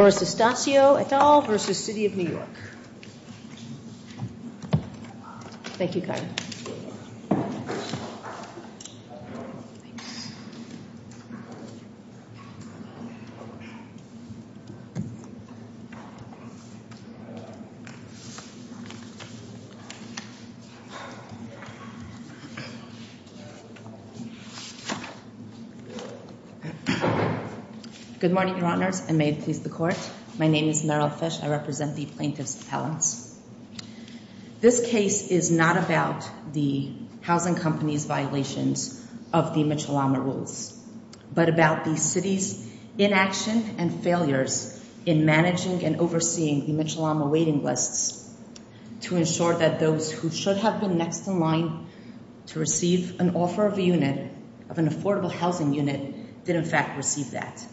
Doris D'Astacio, et al. v. The City of New York Thank you, Carter. Good morning, your honors, and may it please the court. My name is Meryl Fisch. I represent the plaintiff's appellants. This case is not about the housing company's violations of the Mitchell-Lama rules, but about the city's inaction and failures in managing and overseeing the Mitchell-Lama waiting lists to ensure that those who should have been next in line to receive an offer of a unit, of an affordable housing unit, did in fact receive that.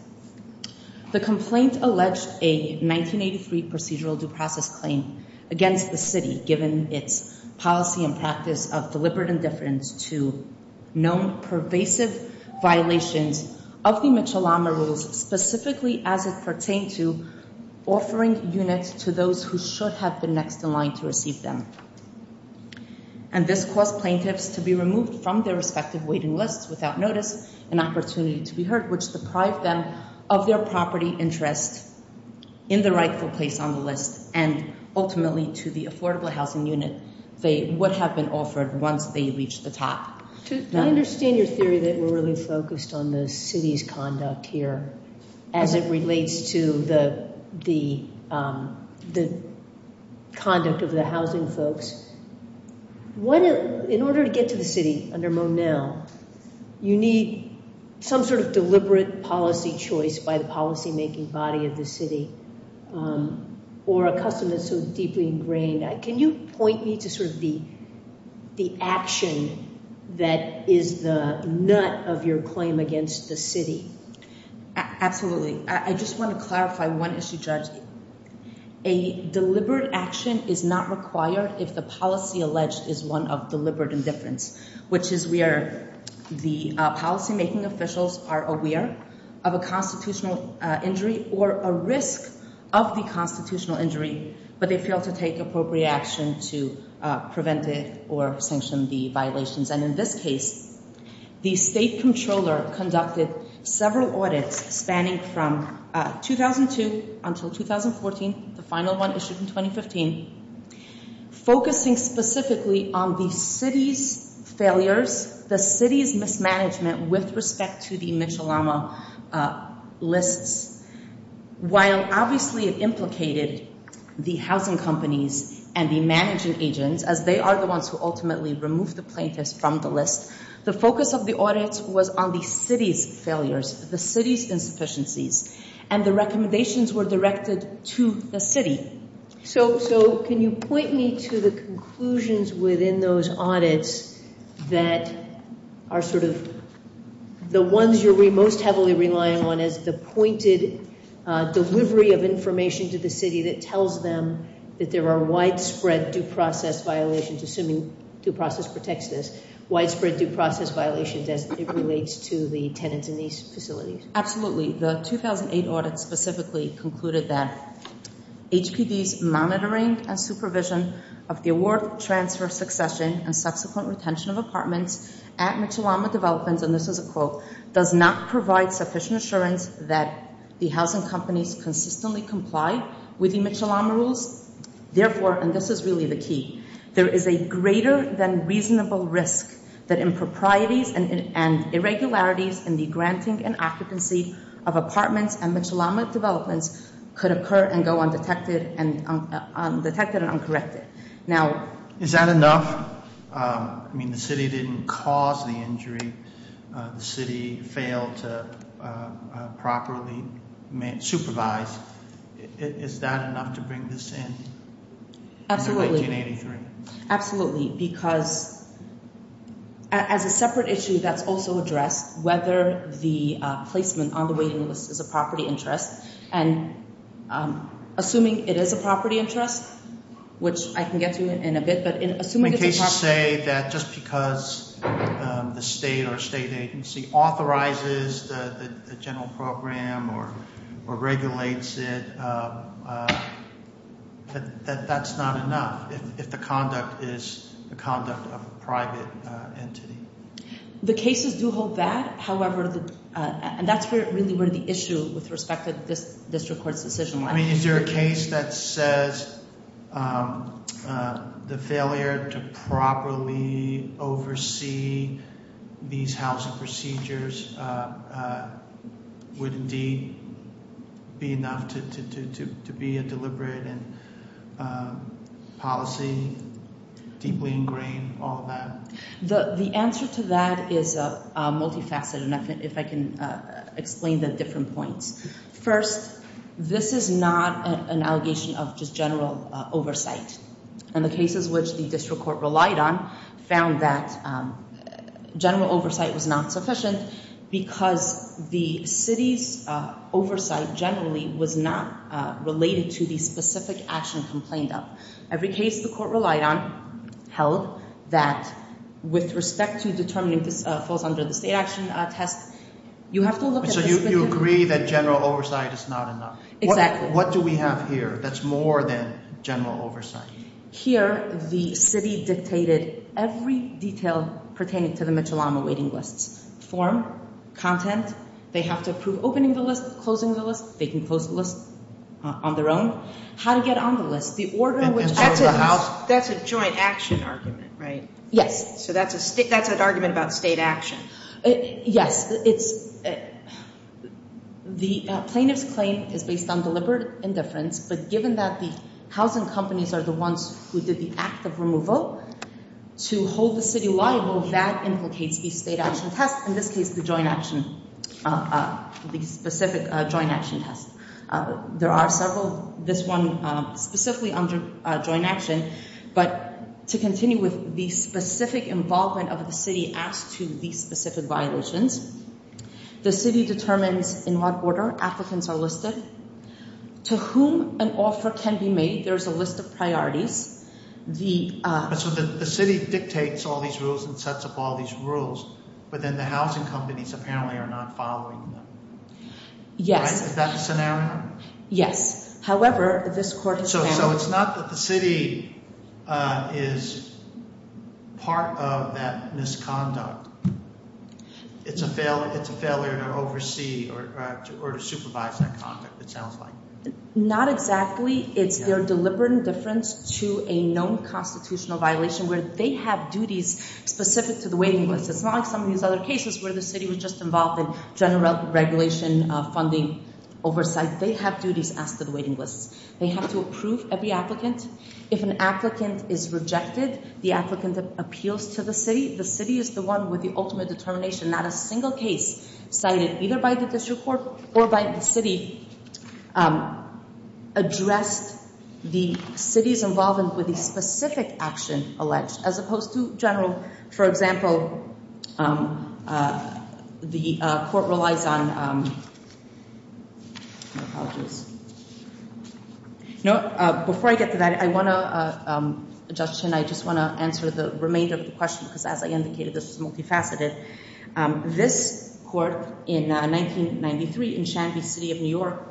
The complaint alleged a 1983 procedural due process claim against the city, given its policy and practice of deliberate indifference to known pervasive violations of the Mitchell-Lama rules, specifically as it pertained to offering units to those who should have been next in line to receive them. And this caused plaintiffs to be removed from their respective waiting lists without notice, an opportunity to be heard, which deprived them of their property interest in the rightful place on the list, and ultimately to the affordable housing unit they would have been offered once they reached the top. I understand your theory that we're really focused on the city's conduct here, as it relates to the conduct of the housing folks. In order to get to the city under Monell, you need some sort of deliberate policy choice by the policymaking body of the city, or a custom that's so deeply ingrained. Can you point me to sort of the action that is the nut of your claim against the city? Absolutely. I just want to clarify one issue, Judge. A deliberate action is not required if the policy alleged is one of deliberate indifference, which is where the policymaking officials are aware of a constitutional injury or a risk of the constitutional injury, but they fail to take appropriate action to prevent it or sanction the violations. In this case, the state comptroller conducted several audits spanning from 2002 until 2014, the final one issued in 2015, focusing specifically on the city's failures, the city's mismanagement with respect to the Mitchell-Lama lists, while obviously it implicated the housing companies and the managing agents, as they are the ones who ultimately remove the plaintiffs from the list. The focus of the audits was on the city's failures, the city's insufficiencies, and the recommendations were directed to the city. So can you point me to the conclusions within those audits that are sort of the ones you're most heavily relying on as the pointed delivery of information to the city that tells them that there are widespread due process violations, assuming due process protects this, widespread due process violations as it relates to the tenants in these facilities? Absolutely. The 2008 audit specifically concluded that HPD's monitoring and supervision of the award transfer succession and subsequent retention of apartments at Mitchell-Lama Developments, and this is a quote, does not provide sufficient assurance that the housing companies consistently comply with the Mitchell-Lama rules, therefore, and this is really the key, there is a greater than reasonable risk that improprieties and irregularities in the granting and occupancy of apartments at Mitchell-Lama Developments could occur and go undetected and uncorrected. Now is that enough? I mean, the city didn't cause the injury, the city failed to properly supervise. Is that enough to bring this in? Absolutely. Absolutely. Because as a separate issue that's also addressed, whether the placement on the waiting list is a property interest, and assuming it is a property interest, which I can get to in a bit, but assuming it's a property interest. When cases say that just because the state or state agency authorizes the general program or regulates it, that that's not enough if the conduct is the conduct of a private entity? The cases do hold that, however, and that's really where the issue with respect to this district court's decision. I mean, is there a case that says the failure to properly oversee these housing procedures would indeed be enough to be a deliberate policy, deeply ingrained, all of that? The answer to that is multifaceted, and if I can explain the different points. First, this is not an allegation of just general oversight, and the cases which the district court relied on found that general oversight was not sufficient because the city's oversight generally was not related to the specific action complained of. Every case the court relied on held that with respect to determining if this falls under the state action test, you have to look at the specific... So you agree that general oversight is not enough. What do we have here that's more than general oversight? Here the city dictated every detail pertaining to the Mitchell-Lama waiting lists, form, content. They have to approve opening the list, closing the list. They can close the list on their own. How to get on the list, the order in which... That's a joint action argument, right? Yes. So that's an argument about state action. Yes. The plaintiff's claim is based on deliberate indifference, but given that the housing companies are the ones who did the act of removal, to hold the city liable, that implicates the state action test. In this case, the joint action, the specific joint action test. There are several, this one specifically under joint action, but to continue with the specific involvement of the city as to these specific violations, the city determines in what order applicants are listed, to whom an offer can be made. There's a list of priorities. The city dictates all these rules and sets up all these rules, but then the housing companies apparently are not following them. Yes. Is that the scenario? Yes. However, this court... So it's not that the city is part of that misconduct. It's a failure to oversee or to supervise that conduct, it sounds like. Not exactly. It's their deliberate indifference to a known constitutional violation where they have duties specific to the waiting list. It's not like some of these other cases where the city was just involved in general regulation funding oversight. They have duties as to the waiting lists. They have to approve every applicant. If an applicant is rejected, the applicant appeals to the city. The city is the one with the ultimate determination, not a single case cited either by the district court or by the city addressed the city's involvement with the specific action alleged as opposed to general. For example, the court relies on... My apologies. No, before I get to that, I want to, Judge Chin, I just want to answer the remainder of the question because as I indicated, this is multifaceted. This court in 1993 in Shanby City of New York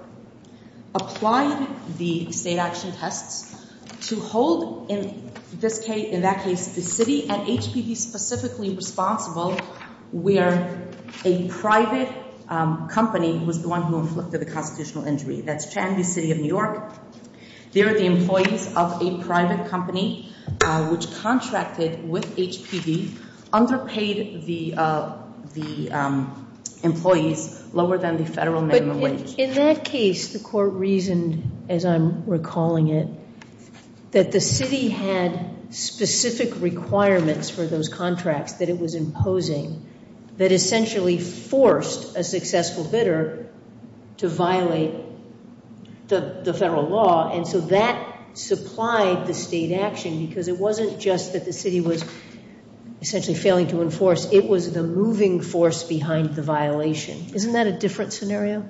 applied the state action tests to hold in that case the city and HPV specifically responsible where a private company was the one who inflicted the constitutional injury. That's Shanby City of New York. They're the employees of a private company which contracted with HPV, underpaid the employees lower than the federal minimum wage. In that case, the court reasoned, as I'm recalling it, that the city had specific requirements for those contracts that it was imposing that essentially forced a successful bidder to violate the federal law and so that supplied the state action because it wasn't just that the city was essentially failing to enforce, it was the moving force behind the violation. Isn't that a different scenario?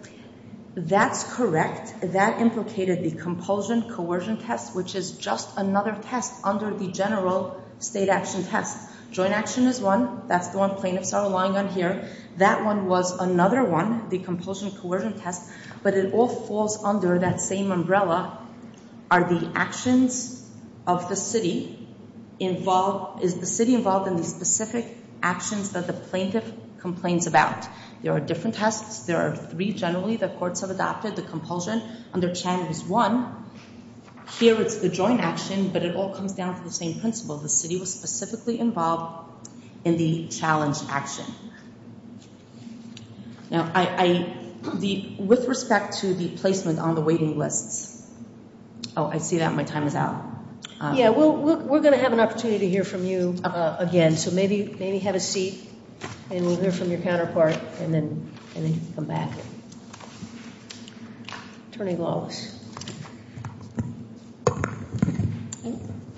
That's correct. That implicated the compulsion coercion test which is just another test under the general state action test. Joint action is one. That's the one plaintiffs are relying on here. That one was another one, the compulsion coercion test, but it all falls under that same umbrella are the actions of the city involved... Is the city involved in the specific actions that the plaintiff complains about? There are different tests. There are three generally that courts have adopted. The compulsion under Chan is one. Here it's the joint action, but it all comes down to the same principle. The city was specifically involved in the challenge action. With respect to the placement on the waiting lists... Oh, I see that my time is out. Yeah, we're going to have an opportunity to hear from you again, so maybe have a seat and we'll hear from your counterpart and then come back. Attorney Lawless.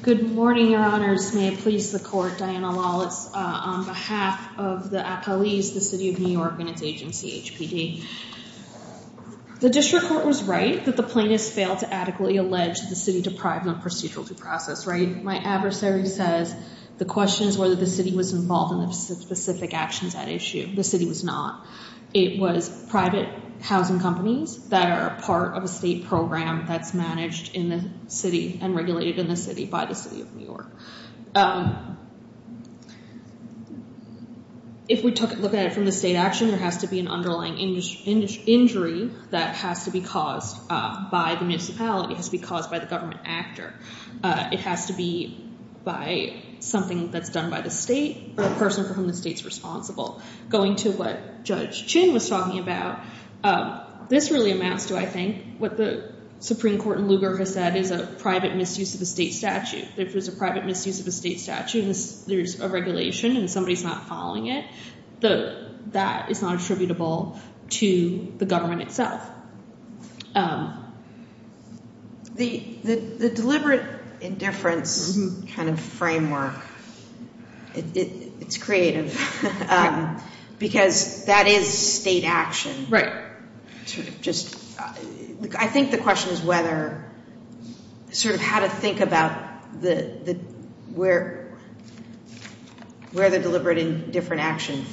Good morning, your honors. May it please the court, Diana Lawless, on behalf of the appellees, the city of New York and its agency, HPD. The district court was right that the plaintiffs failed to adequately allege the city deprived of procedural due process, right? My adversary says the question is whether the city was involved in the specific actions at issue. The city was not. It was private housing companies that are part of a state program that's managed in the city and regulated in the city by the city of New York. If we look at it from the state action, there has to be an underlying injury that has to be caused by the municipality, has to be caused by the government actor. It has to be by something that's done by the state or a person from the state's responsible. Going to what Judge Chin was talking about, this really amounts to, I think, what the Supreme Court in Lugar has said is a private misuse of the state statute. If there's a private misuse of the state statute and there's a regulation and somebody's not following it, that is not attributable to the government itself. The deliberate indifference kind of framework, it's creative because that is state action. I think the question is whether, sort of how to think about where the deliberate indifference action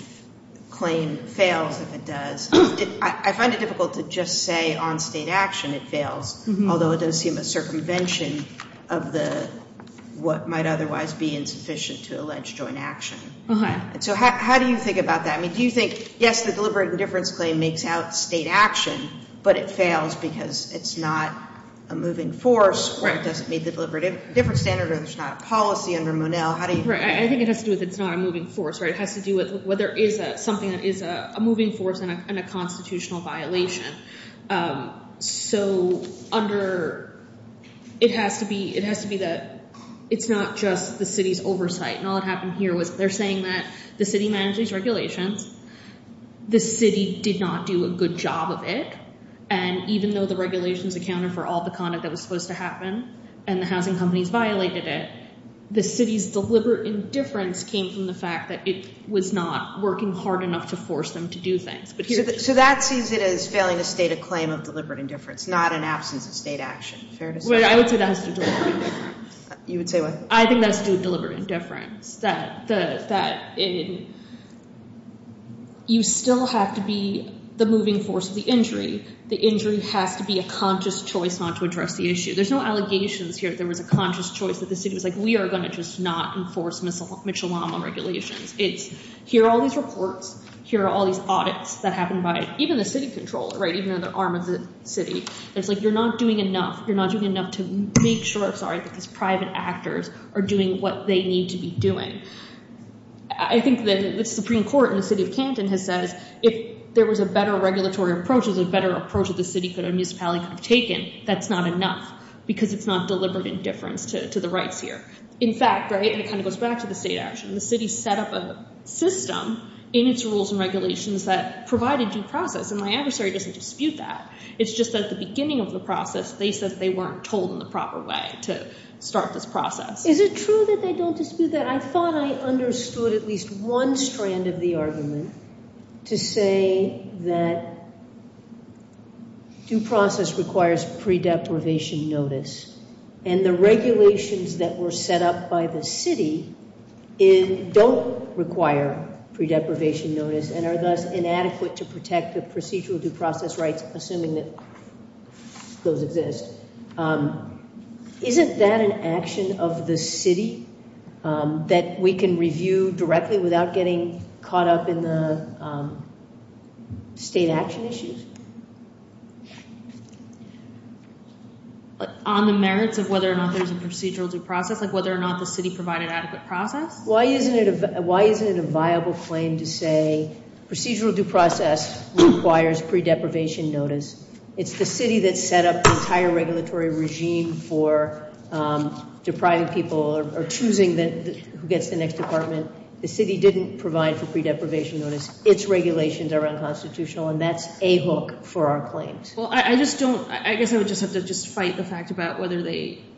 claim fails if it does. I find it difficult to just say on state action it fails, although it does seem a circumvention of what might otherwise be insufficient to allege joint action. How do you think about that? Do you think, yes, the deliberate indifference claim makes out state action, but it fails because it's not a moving force or it doesn't meet the deliberate indifference standard or there's not a policy under Monell? I think it has to do with it's not a moving force. It has to do with whether it is something that is a moving force and a constitutional violation. It has to be that it's not just the city's oversight. All that happened here was they're saying that the city manages regulations. The city did not do a good job of it. Even though the regulations accounted for all the conduct that was supposed to happen and the housing companies violated it, the city's deliberate indifference came from the city was not working hard enough to force them to do things. So that sees it as failing to state a claim of deliberate indifference, not an absence of state action. Fair to say. I would say that has to do with deliberate indifference. You would say what? I think that has to do with deliberate indifference. You still have to be the moving force of the injury. The injury has to be a conscious choice not to address the issue. There's no allegations here that there was a conscious choice that the city was like, we are going to just not enforce Mitchell-Lama regulations. Here are all these reports. Here are all these audits that happened by even the city controller, even the arm of the city. It's like you're not doing enough. You're not doing enough to make sure that these private actors are doing what they need to be doing. I think the Supreme Court in the city of Canton has said if there was a better regulatory approach, a better approach that the city or the municipality could have taken, that's not enough because it's not deliberate indifference to the rights here. In fact, and it kind of goes back to the state action, the city set up a system in its rules and regulations that provided due process, and my adversary doesn't dispute that. It's just that at the beginning of the process, they said they weren't told in the proper way to start this process. Is it true that they don't dispute that? I thought I understood at least one strand of the argument to say that due process requires pre-deprivation notice, and the regulations that were set up by the city don't require pre-deprivation notice and are thus inadequate to protect the procedural due process rights assuming that those exist. Isn't that an action of the city that we can review directly without getting caught up in the state action issues? On the merits of whether or not there's a procedural due process, like whether or not the city provided adequate process? Why isn't it a viable claim to say procedural due process requires pre-deprivation notice? It's the city that set up the entire regulatory regime for depriving people or choosing who gets the next apartment. The city didn't provide for pre-deprivation notice. Its regulations are unconstitutional, and that's a hook for our claims. I guess I would just have to fight the fact about whether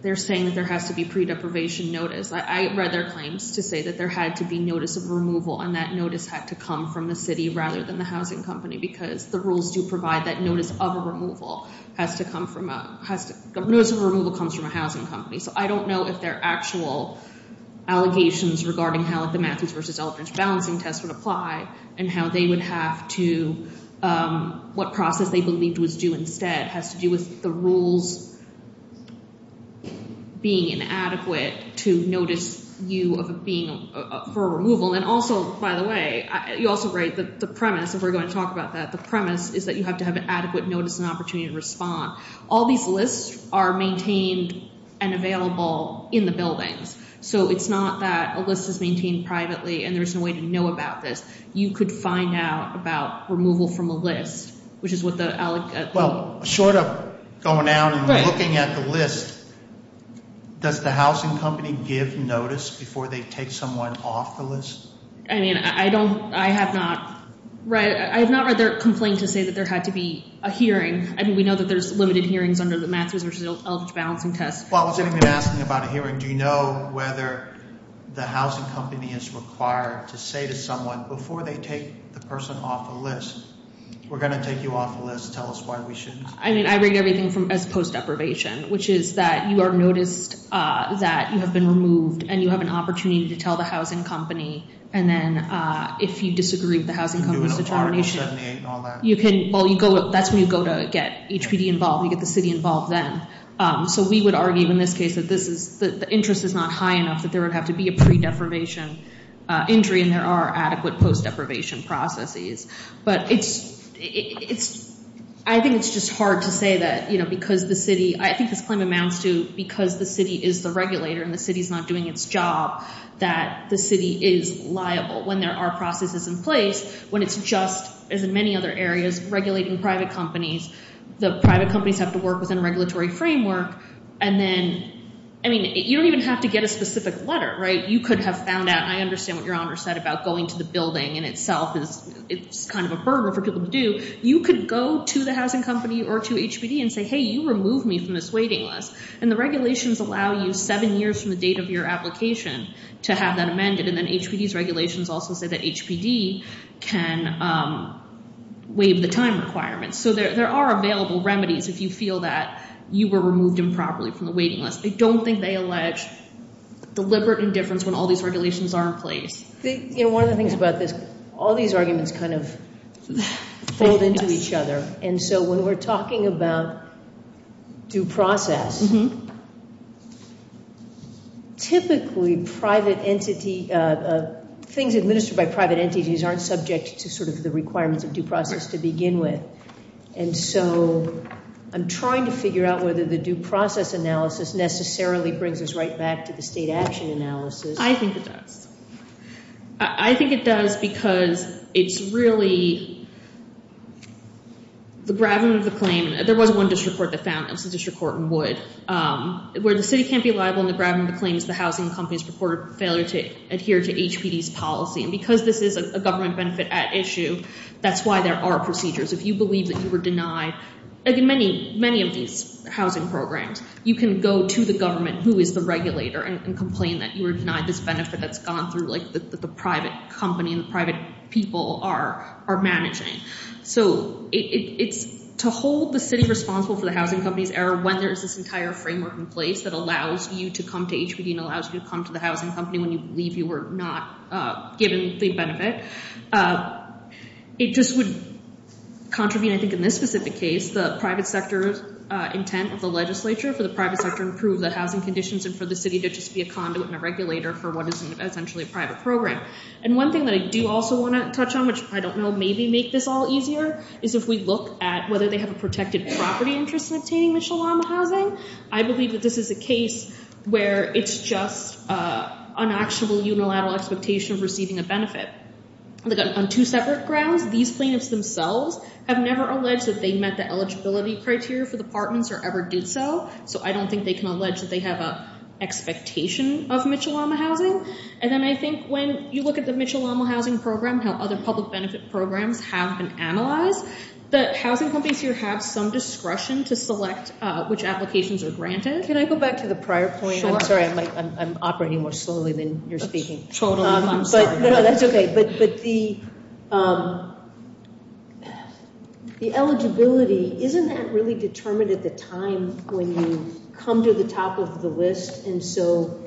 they're saying that there has to be pre-deprivation notice. I read their claims to say that there had to be notice of removal, and that notice had to come from the city rather than the housing company because the rules do provide that notice of removal has to come from a housing company. I don't know if they're actual allegations regarding how the Matthews versus Eldridge balancing test would apply and what process they believed was due instead has to do with the rules being inadequate to notice you for removal. Also, by the way, you also write the premise, and we're going to talk about that. The premise is that you have to have adequate notice and opportunity to respond. All these lists are maintained and available in the buildings, so it's not that a list is maintained privately and there's no way to know about this. You could find out about removal from a list, which is what the allegation... Well, short of going out and looking at the list, does the housing company give notice before they take someone off the list? I mean, I have not read their complaint to say that there had to be a hearing. We know that there's limited hearings under the Matthews versus Eldridge balancing test. Well, I was going to ask you about a hearing. Do you know whether the housing company is required to say to someone, before they take the person off the list, we're going to take you off the list. Tell us why we shouldn't. I mean, I read everything as post deprivation, which is that you are noticed that you have been removed, and you have an opportunity to tell the housing company, and then if you disagree with the housing company's determination... Do an article 78 and all that. Well, that's when you go to get HPD involved, you get the city involved then. So we would argue in this case that the interest is not high enough that there would have to be a pre-deprivation injury, and there are adequate post deprivation processes. But I think it's just hard to say that because the city... I think this claim amounts to because the city is the regulator and the city's not doing its job, that the city is liable when there are processes in place, when it's just, as in many other areas, regulating private companies. The private companies have to work within a regulatory framework, and then... I mean, you don't even have to get a specific letter, right? You could have found out, I understand what Your Honor said about going to the building in itself, it's kind of a burden for people to do. You could go to the housing company or to HPD and say, hey, you removed me from this waiting list, and the regulations allow you seven years from the date of your application to have that amended. And then HPD's regulations also say that HPD can waive the time requirements. So there are available remedies if you feel that you were removed improperly from the waiting list. I don't think they allege deliberate indifference when all these regulations are in place. You know, one of the things about this, all these arguments kind of fold into each other. And so when we're talking about due process, typically things administered by private entities aren't subject to sort of the requirements of due process to begin with. And so I'm trying to figure out whether the due process analysis necessarily brings us right back to the state action analysis. I think it does. I think it does because it's really the bragging of the claim. There was one district court that found, it was the district court in Wood, where the city can't be liable in the bragging of the claims, the housing company's reported failure to adhere to HPD's policy. And because this is a government benefit at issue, that's why there are procedures. If you believe that you were denied, like in many of these housing programs, you can go to the government, who is the regulator, and complain that you were denied this benefit that's gone through the private company and the private people are managing. So it's to hold the city responsible for the housing company's error when there is this entire framework in place that allows you to come to HPD and allows you to come to the housing company when you believe you were not given the benefit. It just would contravene, I think, in this specific case, the private sector's intent of the legislature for the private sector to improve the housing conditions and for the city to just be a conduit and a regulator for what is essentially a private program. And one thing that I do also want to touch on, which I don't know maybe make this all easier, is if we look at whether they have a protected property interest in obtaining Mitchell-Lama housing, I believe that this is a case where it's just an actionable unilateral expectation of receiving a benefit. On two separate grounds, these plaintiffs themselves have never alleged that they met the eligibility criteria for the apartments or ever did so, so I don't think they can allege that they have an expectation of Mitchell-Lama housing. And then I think when you look at the Mitchell-Lama housing program, how other public benefit programs have been analyzed, the housing companies here have some discretion to select which applications are granted. Can I go back to the prior point? I'm sorry, I'm operating more slowly than you're speaking. I'm sorry. No, that's okay. But the eligibility, isn't that really determined at the time when you come to the top of the list? And so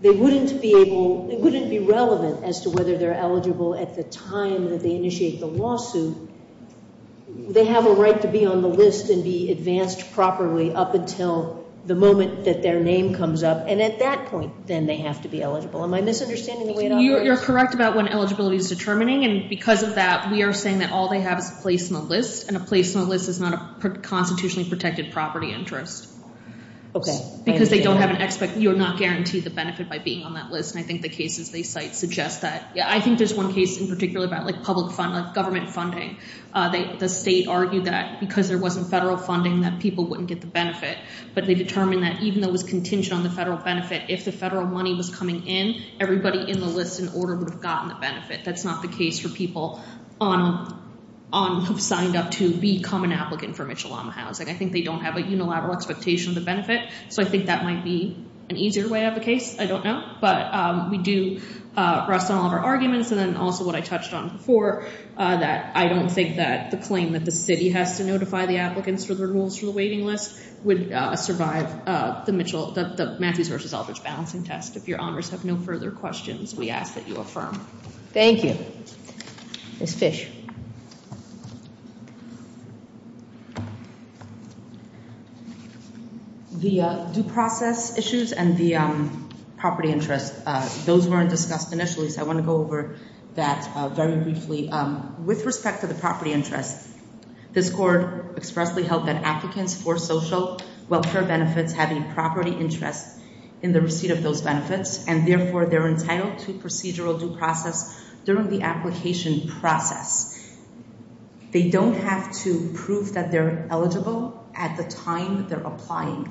they wouldn't be able, it wouldn't be relevant as to whether they're eligible at the time that they initiate the lawsuit. They have a right to be on the list and be advanced properly up until the moment that their name comes up. And at that point, then they have to be eligible. Am I misunderstanding the way it operates? No, you're correct about when eligibility is determining. And because of that, we are saying that all they have is a place in the list and a place in the list is not a constitutionally protected property interest. Because they don't have an expectation, you're not guaranteed the benefit by being on that list. And I think the cases they cite suggest that. I think there's one case in particular about public funding, like government funding. The state argued that because there wasn't federal funding, that people wouldn't get the benefit. But they determined that even though it was contingent on the federal benefit, if the federal money was coming in, everybody in the list and order would have gotten the benefit. That's not the case for people who have signed up to become an applicant for Mitchell-Lama housing. I think they don't have a unilateral expectation of the benefit. So I think that might be an easier way of the case. I don't know. But we do rest on all of our arguments. And then also what I touched on before, that I don't think that the claim that the city has to notify the applicants for the rules for the waiting list would survive the Matthews v. Aldrich balancing test. If your honors have no further questions, we ask that you affirm. Thank you. Ms. Fish. The due process issues and the property interest, those weren't discussed initially, so I want to go over that very briefly. With respect to the property interest, this Court expressly held that applicants for social welfare benefits have a property interest in the receipt of those benefits, and therefore they're entitled to procedural due process during the application process. They don't have to prove that they're eligible at the time they're applying.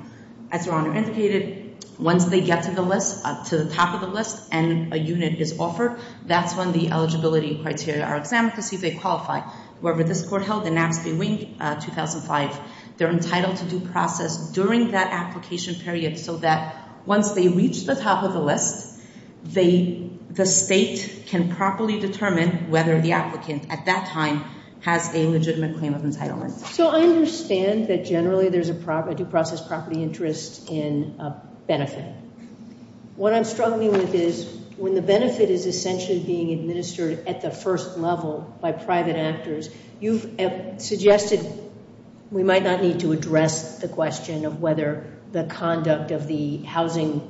As your honor indicated, once they get to the list, to the top of the list, and a unit is offered, that's when the eligibility criteria are examined to see if they qualify. However, this Court held in Naps Bay Wing, 2005, they're entitled to due process during that application period so that once they reach the top of the list, the state can properly determine whether the applicant at that time has a legitimate claim of entitlement. So I understand that generally there's a due process property interest in a benefit. What I'm struggling with is when the benefit is essentially being administered at the first level by private actors, you've suggested we might not need to address the question of whether the conduct of the housing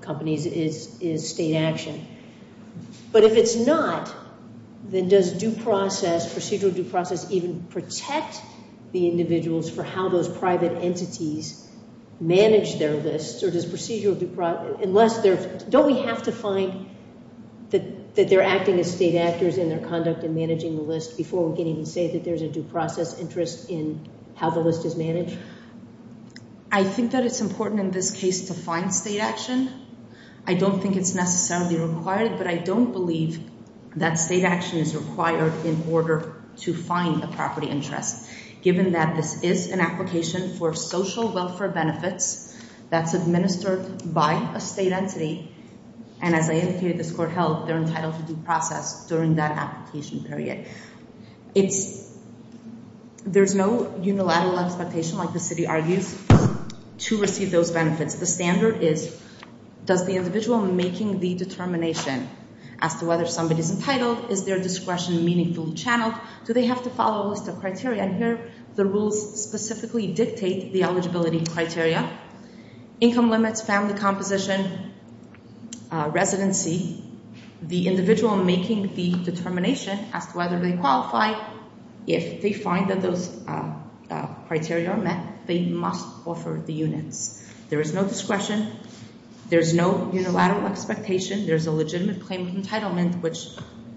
companies is state action. But if it's not, then does procedural due process even protect the individuals for how those private entities manage their lists, or does procedural due process, unless they're Don't we have to find that they're acting as state actors in their conduct in managing the list before we can even say that there's a due process interest in how the list is I think that it's important in this case to find state action. I don't think it's necessarily required, but I don't believe that state action is required in order to find a property interest, given that this is an application for social welfare benefits that's administered by a state entity, and as I indicated, this court held, they're entitled to due process during that application period. There's no unilateral expectation, like the city argues, to receive those benefits. The standard is, does the individual making the determination as to whether somebody's entitled, is their discretion meaningful, channeled, do they have to follow a list of criteria, and here the rules specifically dictate the eligibility criteria, income limits, family composition, residency, the individual making the determination as to whether they qualify, if they find that those criteria are met, they must offer the units. There is no discretion. There's no unilateral expectation. There's a legitimate claim of entitlement, which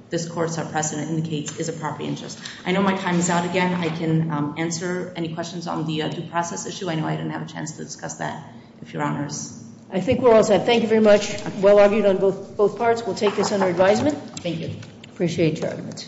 this court's precedent indicates is a property interest. I know my time is out again. I can answer any questions on the due process issue. I know I didn't have a chance to discuss that, if Your Honors. I think we're all set. Thank you very much. Well argued on both parts. We'll take this under advisement. Thank you. Appreciate your argument.